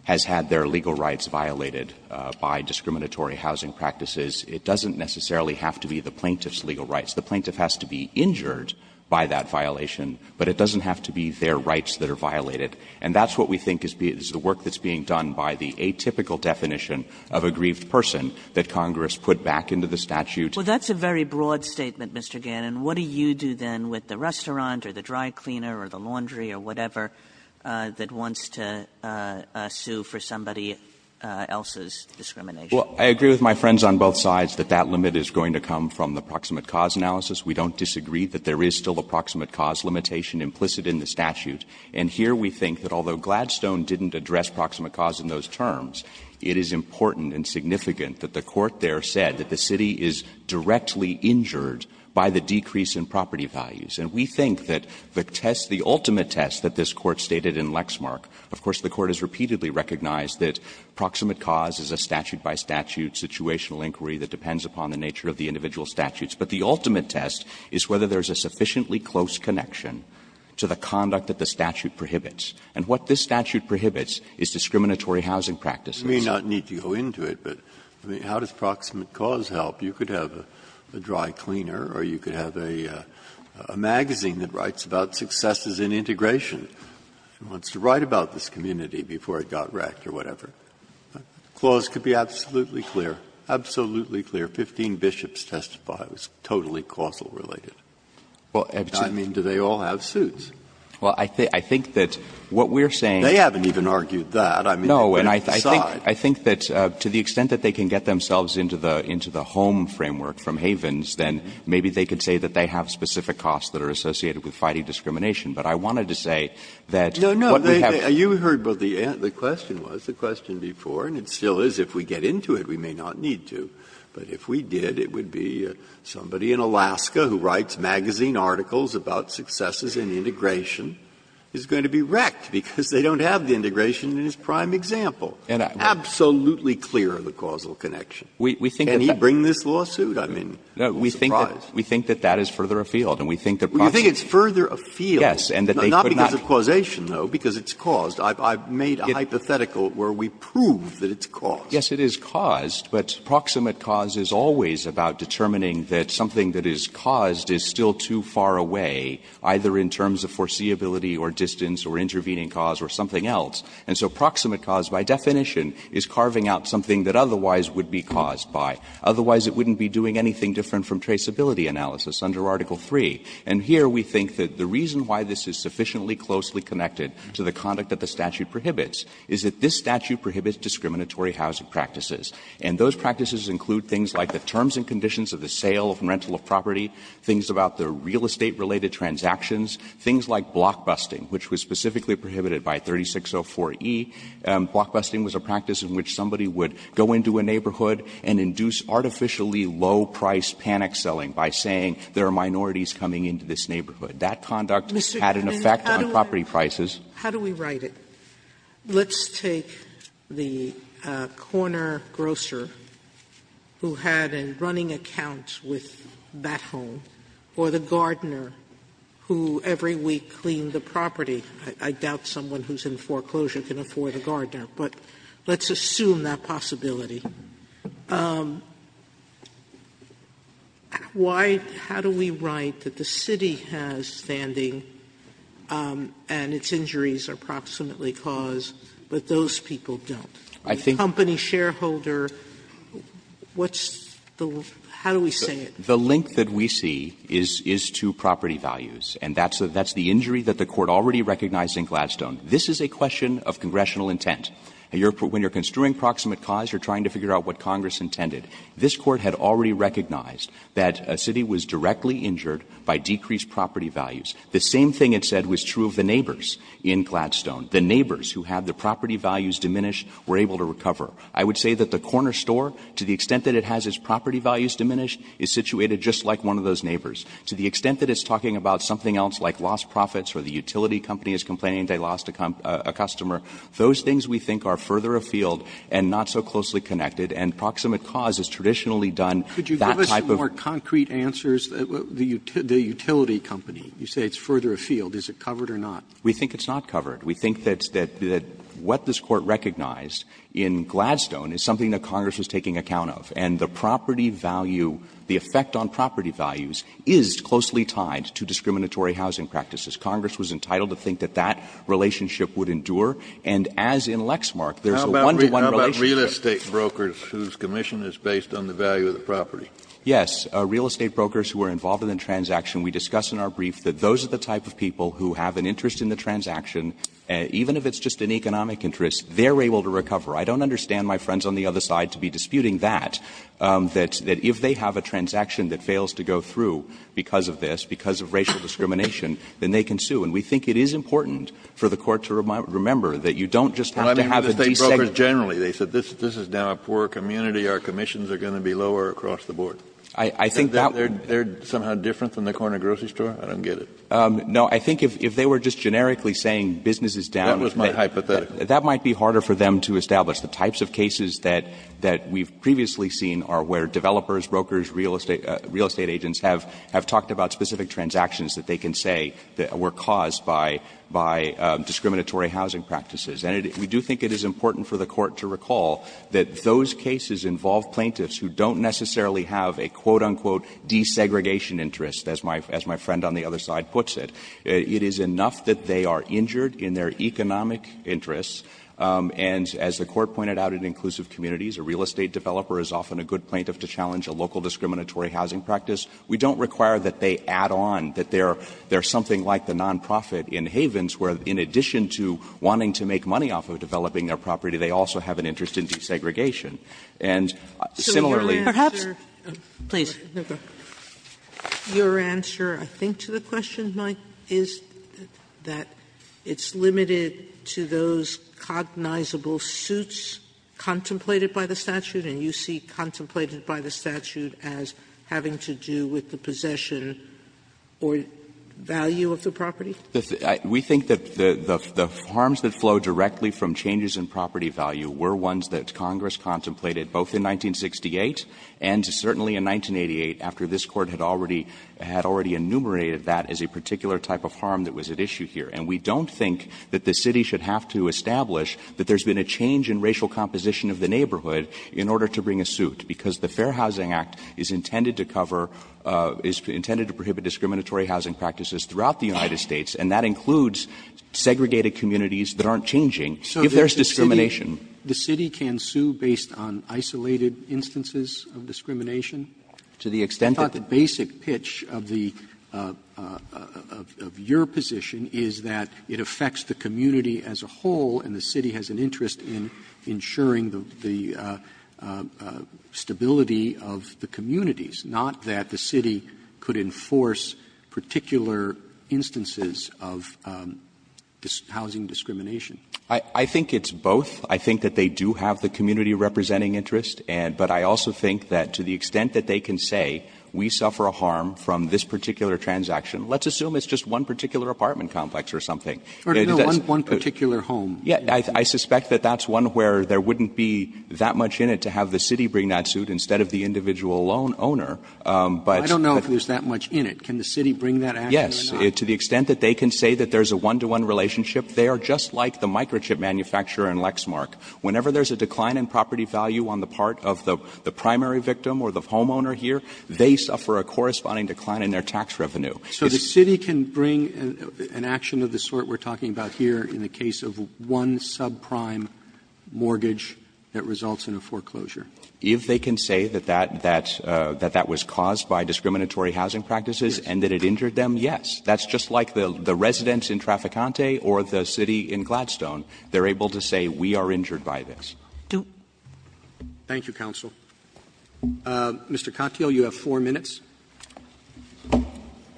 has had their legal rights violated by discriminatory housing practices. It doesn't necessarily have to be the plaintiff's legal rights. The plaintiff has to be injured by that violation, but it doesn't have to be their rights that are violated. And that's what we think is the work that's being done by the atypical definition of a grieved person that Congress put back into the statute. Kagan. Well, that's a very broad statement, Mr. Gannon. What do you do, then, with the restaurant or the dry cleaner or the laundry or whatever that wants to sue for somebody else's discrimination? Well, I agree with my friends on both sides that that limit is going to come from the proximate cause analysis. We don't disagree that there is still a proximate cause limitation implicit in the statute. And here we think that although Gladstone didn't address proximate cause in those terms, it is important and significant that the Court there said that the city is directly injured by the decrease in property values. And we think that the test, the ultimate test that this Court stated in Lexmark of course the Court has repeatedly recognized that proximate cause is a statute by statute situational inquiry that depends upon the nature of the individual statutes, but the ultimate test is whether there is a sufficiently close connection to the conduct that the statute prohibits. And what this statute prohibits is discriminatory housing practices. You may not need to go into it, but how does proximate cause help? You could have a dry cleaner or you could have a magazine that writes about successes in integration and wants to write about this community before it got wrecked or whatever. The clause could be absolutely clear, absolutely clear. Fifteen bishops testify. It was totally causal related. I mean, do they all have suits? Well, I think that what we are saying is that they can get themselves into the home framework from Havens, then maybe they can say that they have specific costs that are associated with fighting discrimination. But I wanted to say that what we have to say. Breyer. No, no, you heard what the question was, the question before, and it still is if we get into it we may not need to. But if we did, it would be somebody in Alaska who writes magazine articles about successes in integration is going to be wrecked because they don't have the integration in his prime example. Absolutely clear the causal connection. Can he bring this lawsuit? I mean, I'm surprised. No, we think that that is further afield, and we think that proximate cause is always about determining that something that is caused is still too far away, either in terms of foreseeability or distance or intervening cause or something else. And so proximate cause, by definition, is carving out something that otherwise would be caused. Otherwise, it wouldn't be doing anything different from traceability analysis under Article III. And here we think that the reason why this is sufficiently closely connected to the conduct that the statute prohibits is that this statute prohibits discriminatory housing practices. And those practices include things like the terms and conditions of the sale and rental of property, things about the real estate-related transactions, things like blockbusting, which was specifically prohibited by 3604e. Blockbusting was a practice in which somebody would go into a neighborhood and induce artificially low-priced panic selling by saying there are minorities coming into this neighborhood. That conduct had an effect on property prices. Sotomayor, how do we write it? Let's take the corner grocer who had a running account with Bat Home or the gardener who every week cleaned the property. I doubt someone who is in foreclosure can afford a gardener, but let's assume that possibility. Why do we write that the city has standing and its injuries are proximately cause, but those people don't? Company shareholder, what's the – how do we say it? Gannon, The link that we see is to property values, and that's the injury that the Court already recognized in Gladstone. This is a question of congressional intent. When you're construing proximate cause, you're trying to figure out what Congress intended. This Court had already recognized that a city was directly injured by decreased property values. The same thing it said was true of the neighbors in Gladstone. The neighbors who had the property values diminished were able to recover. I would say that the corner store, to the extent that it has its property values diminished, is situated just like one of those neighbors. To the extent that it's talking about something else like lost profits or the utility company is complaining they lost a customer, those things we think are further afield and not so closely connected, and proximate cause is traditionally done that type of – Roberts Could you give us some more concrete answers? The utility company, you say it's further afield. Is it covered or not? Gannon, We think it's not covered. We think that what this Court recognized in Gladstone is something that Congress was taking account of, and the property value, the effect on property values is closely tied to discriminatory housing practices. Congress was entitled to think that that relationship would endure, and as in Lexmark, there's a one-to-one relationship. Roberts How about real estate brokers whose commission is based on the value of the property? Gannon, Yes. Real estate brokers who are involved in the transaction, we discuss in our brief that those are the type of people who have an interest in the transaction, even if it's just an economic interest, they're able to recover. I don't understand my friends on the other side to be disputing that, that if they have a transaction that fails to go through because of this, because of racial discrimination, then they can sue. And we think it is important for the Court to remember that you don't just have to Kennedy Well, I mean, real estate brokers generally, they said, this is now a poor community, our commissions are going to be lower across the board. Gannon, I think that Kennedy They're somehow different than the corner grocery store? I don't get it. Gannon, No. I think if they were just generically saying business is down Kennedy That was my hypothetical. Gannon, that might be harder for them to establish. The types of cases that we've previously seen are where developers, brokers, real estate agents have talked about specific transactions that they can say were caused by discriminatory housing practices. And we do think it is important for the Court to recall that those cases involve plaintiffs who don't necessarily have a quote, unquote, desegregation interest, as my friend on the other side puts it. It is enough that they are injured in their economic interests, and as the Court pointed out in inclusive communities, a real estate developer is often a good plaintiff to challenge a local discriminatory housing practice. We don't require that they add on, that there is something like the nonprofit in Havens where in addition to wanting to make money off of developing their property, they also have an interest in desegregation. And similarly, perhaps Sotomayor Your answer, I think, to the question, Mike, is that it's limited to those cognizable suits contemplated by the statute, and you see contemplated by the statute as having to do with the possession or value of the property? We think that the harms that flow directly from changes in property value were ones that Congress contemplated both in 1968 and certainly in 1988, after this Court had already enumerated that as a particular type of harm that was at issue here. And we don't think that the city should have to establish that there's been a change in racial composition of the neighborhood in order to bring a suit, because the Fair Housing Act is intended to cover, is intended to prohibit discriminatory housing practices throughout the United States, and that includes segregated communities that aren't changing, if there's discrimination. The city can sue based on isolated instances of discrimination? To the extent that the I thought the basic pitch of the of your position is that it affects the community as a whole, and the city has an interest in ensuring the stability of the communities, not that the city could enforce particular instances of housing discrimination. I think it's both. I think that they do have the community-representing interest, but I also think that to the extent that they can say we suffer a harm from this particular transaction, let's assume it's just one particular apartment complex or something. Roberts One particular home. I suspect that that's one where there wouldn't be that much in it to have the city bring that suit instead of the individual loan owner, but I don't know if there's that much in it. Can the city bring that action or not? Yes, to the extent that they can say that there's a one-to-one relationship, they are just like the microchip manufacturer in Lexmark. Whenever there's a decline in property value on the part of the primary victim or the homeowner here, they suffer a corresponding decline in their tax revenue. Roberts So the city can bring an action of the sort we're talking about here in the case of one subprime mortgage that results in a foreclosure? If they can say that that was caused by discriminatory housing practices and that it injured them, yes. That's just like the residents in Traficante or the city in Gladstone. They're able to say we are injured by this. Roberts Thank you, counsel. Mr. Katyal, you have four minutes. Katyal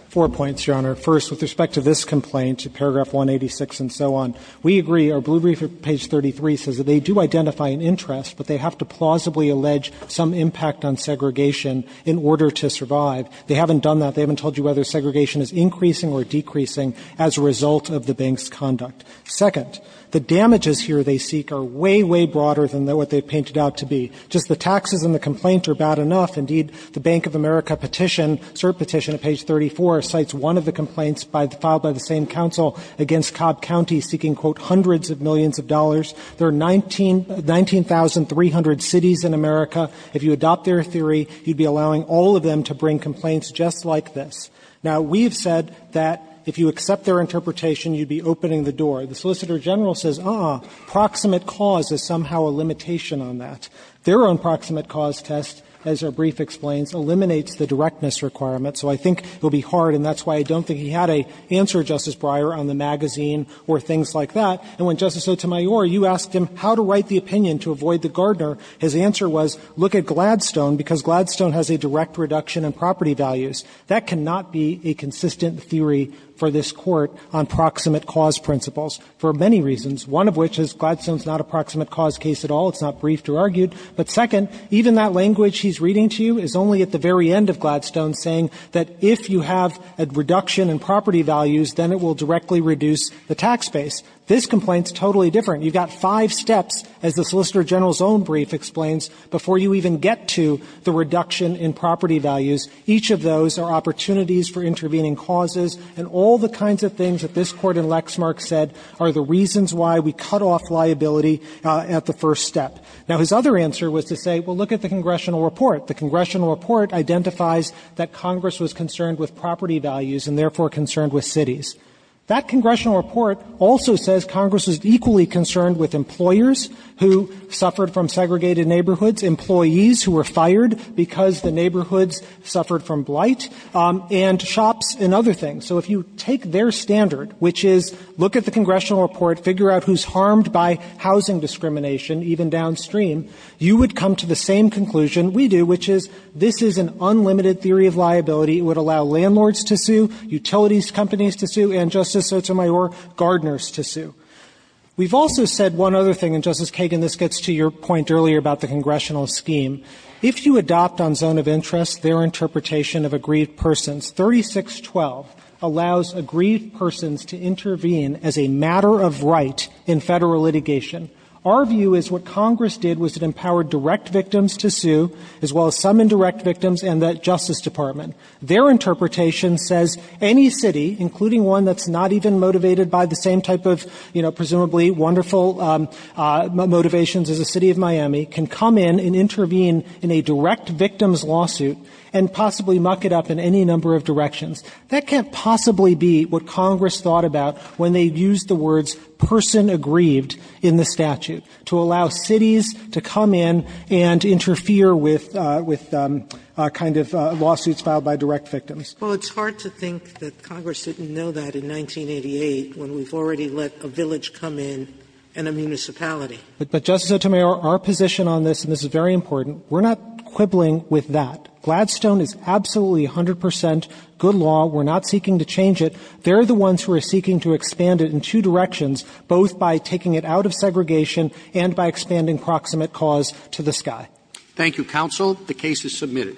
Four points, Your Honor. First, with respect to this complaint, paragraph 186 and so on, we agree, or Blue Briefer page 33 says that they do identify an interest, but they have to plausibly allege some impact on segregation in order to survive. They haven't done that. They haven't told you whether segregation is increasing or decreasing as a result of the bank's conduct. Second, the damages here they seek are way, way broader than what they've painted out to be. Just the taxes in the complaint are bad enough. Indeed, the Bank of America petition, cert petition at page 34, cites one of the complaints filed by the same counsel against Cobb County seeking, quote, hundreds of millions of dollars. There are 19,300 cities in America. If you adopt their theory, you'd be allowing all of them to bring complaints just like this. Now, we've said that if you accept their interpretation, you'd be opening the door. The Solicitor General says, uh-uh, proximate cause is somehow a limitation on that. Their own proximate cause test, as our brief explains, eliminates the directness requirement. So I think it will be hard, and that's why I don't think he had an answer, Justice Breyer, on the magazine or things like that. And when Justice Sotomayor, you asked him how to write the opinion to avoid the Gardner, his answer was look at Gladstone, because Gladstone has a direct reduction in property values. That cannot be a consistent theory for this Court on proximate cause principles for many reasons, one of which is Gladstone is not a proximate cause case at all. It's not briefed or argued. But second, even that language he's reading to you is only at the very end of Gladstone saying that if you have a reduction in property values, then it will directly reduce the tax base. This complaint is totally different. You've got five steps, as the Solicitor General's own brief explains, before you even get to the reduction in property values. Each of those are opportunities for intervening causes, and all the kinds of things that this Court in Lexmark said are the reasons why we cut off liability at the first step. Now, his other answer was to say, well, look at the congressional report. The congressional report identifies that Congress was concerned with property values and therefore concerned with cities. That congressional report also says Congress was equally concerned with employers who suffered from segregated neighborhoods, employees who were fired because the neighborhoods suffered from blight, and shops and other things. So if you take their standard, which is look at the congressional report, figure out who's harmed by housing discrimination, even downstream, you would come to the same conclusion we do, which is this is an unlimited theory of liability. It would allow landlords to sue, utilities companies to sue, and Justice Sotomayor, gardeners to sue. We've also said one other thing, and, Justice Kagan, this gets to your point earlier about the congressional scheme. If you adopt on zone of interest their interpretation of agreed persons, 3612 allows agreed persons to intervene as a matter of right in Federal litigation. Our view is what Congress did was it empowered direct victims to sue, as well as some indirect victims, and the Justice Department. Their interpretation says any city, including one that's not even motivated by the same type of, you know, presumably wonderful motivations as the City of Miami, can come in and intervene in a direct victims lawsuit and possibly muck it up in any number of directions. That can't possibly be what Congress thought about when they used the words person aggrieved in the statute, to allow cities to come in and interfere with kind of lawsuits filed by direct victims. Sotomayor, our position on this, and this is very important, we're not quibbling with that. We're not seeking to change it. They're the ones who are seeking to expand it in two directions, both by taking it out of segregation and by expanding proximate cause to the sky. Roberts. Thank you, counsel. The case is submitted.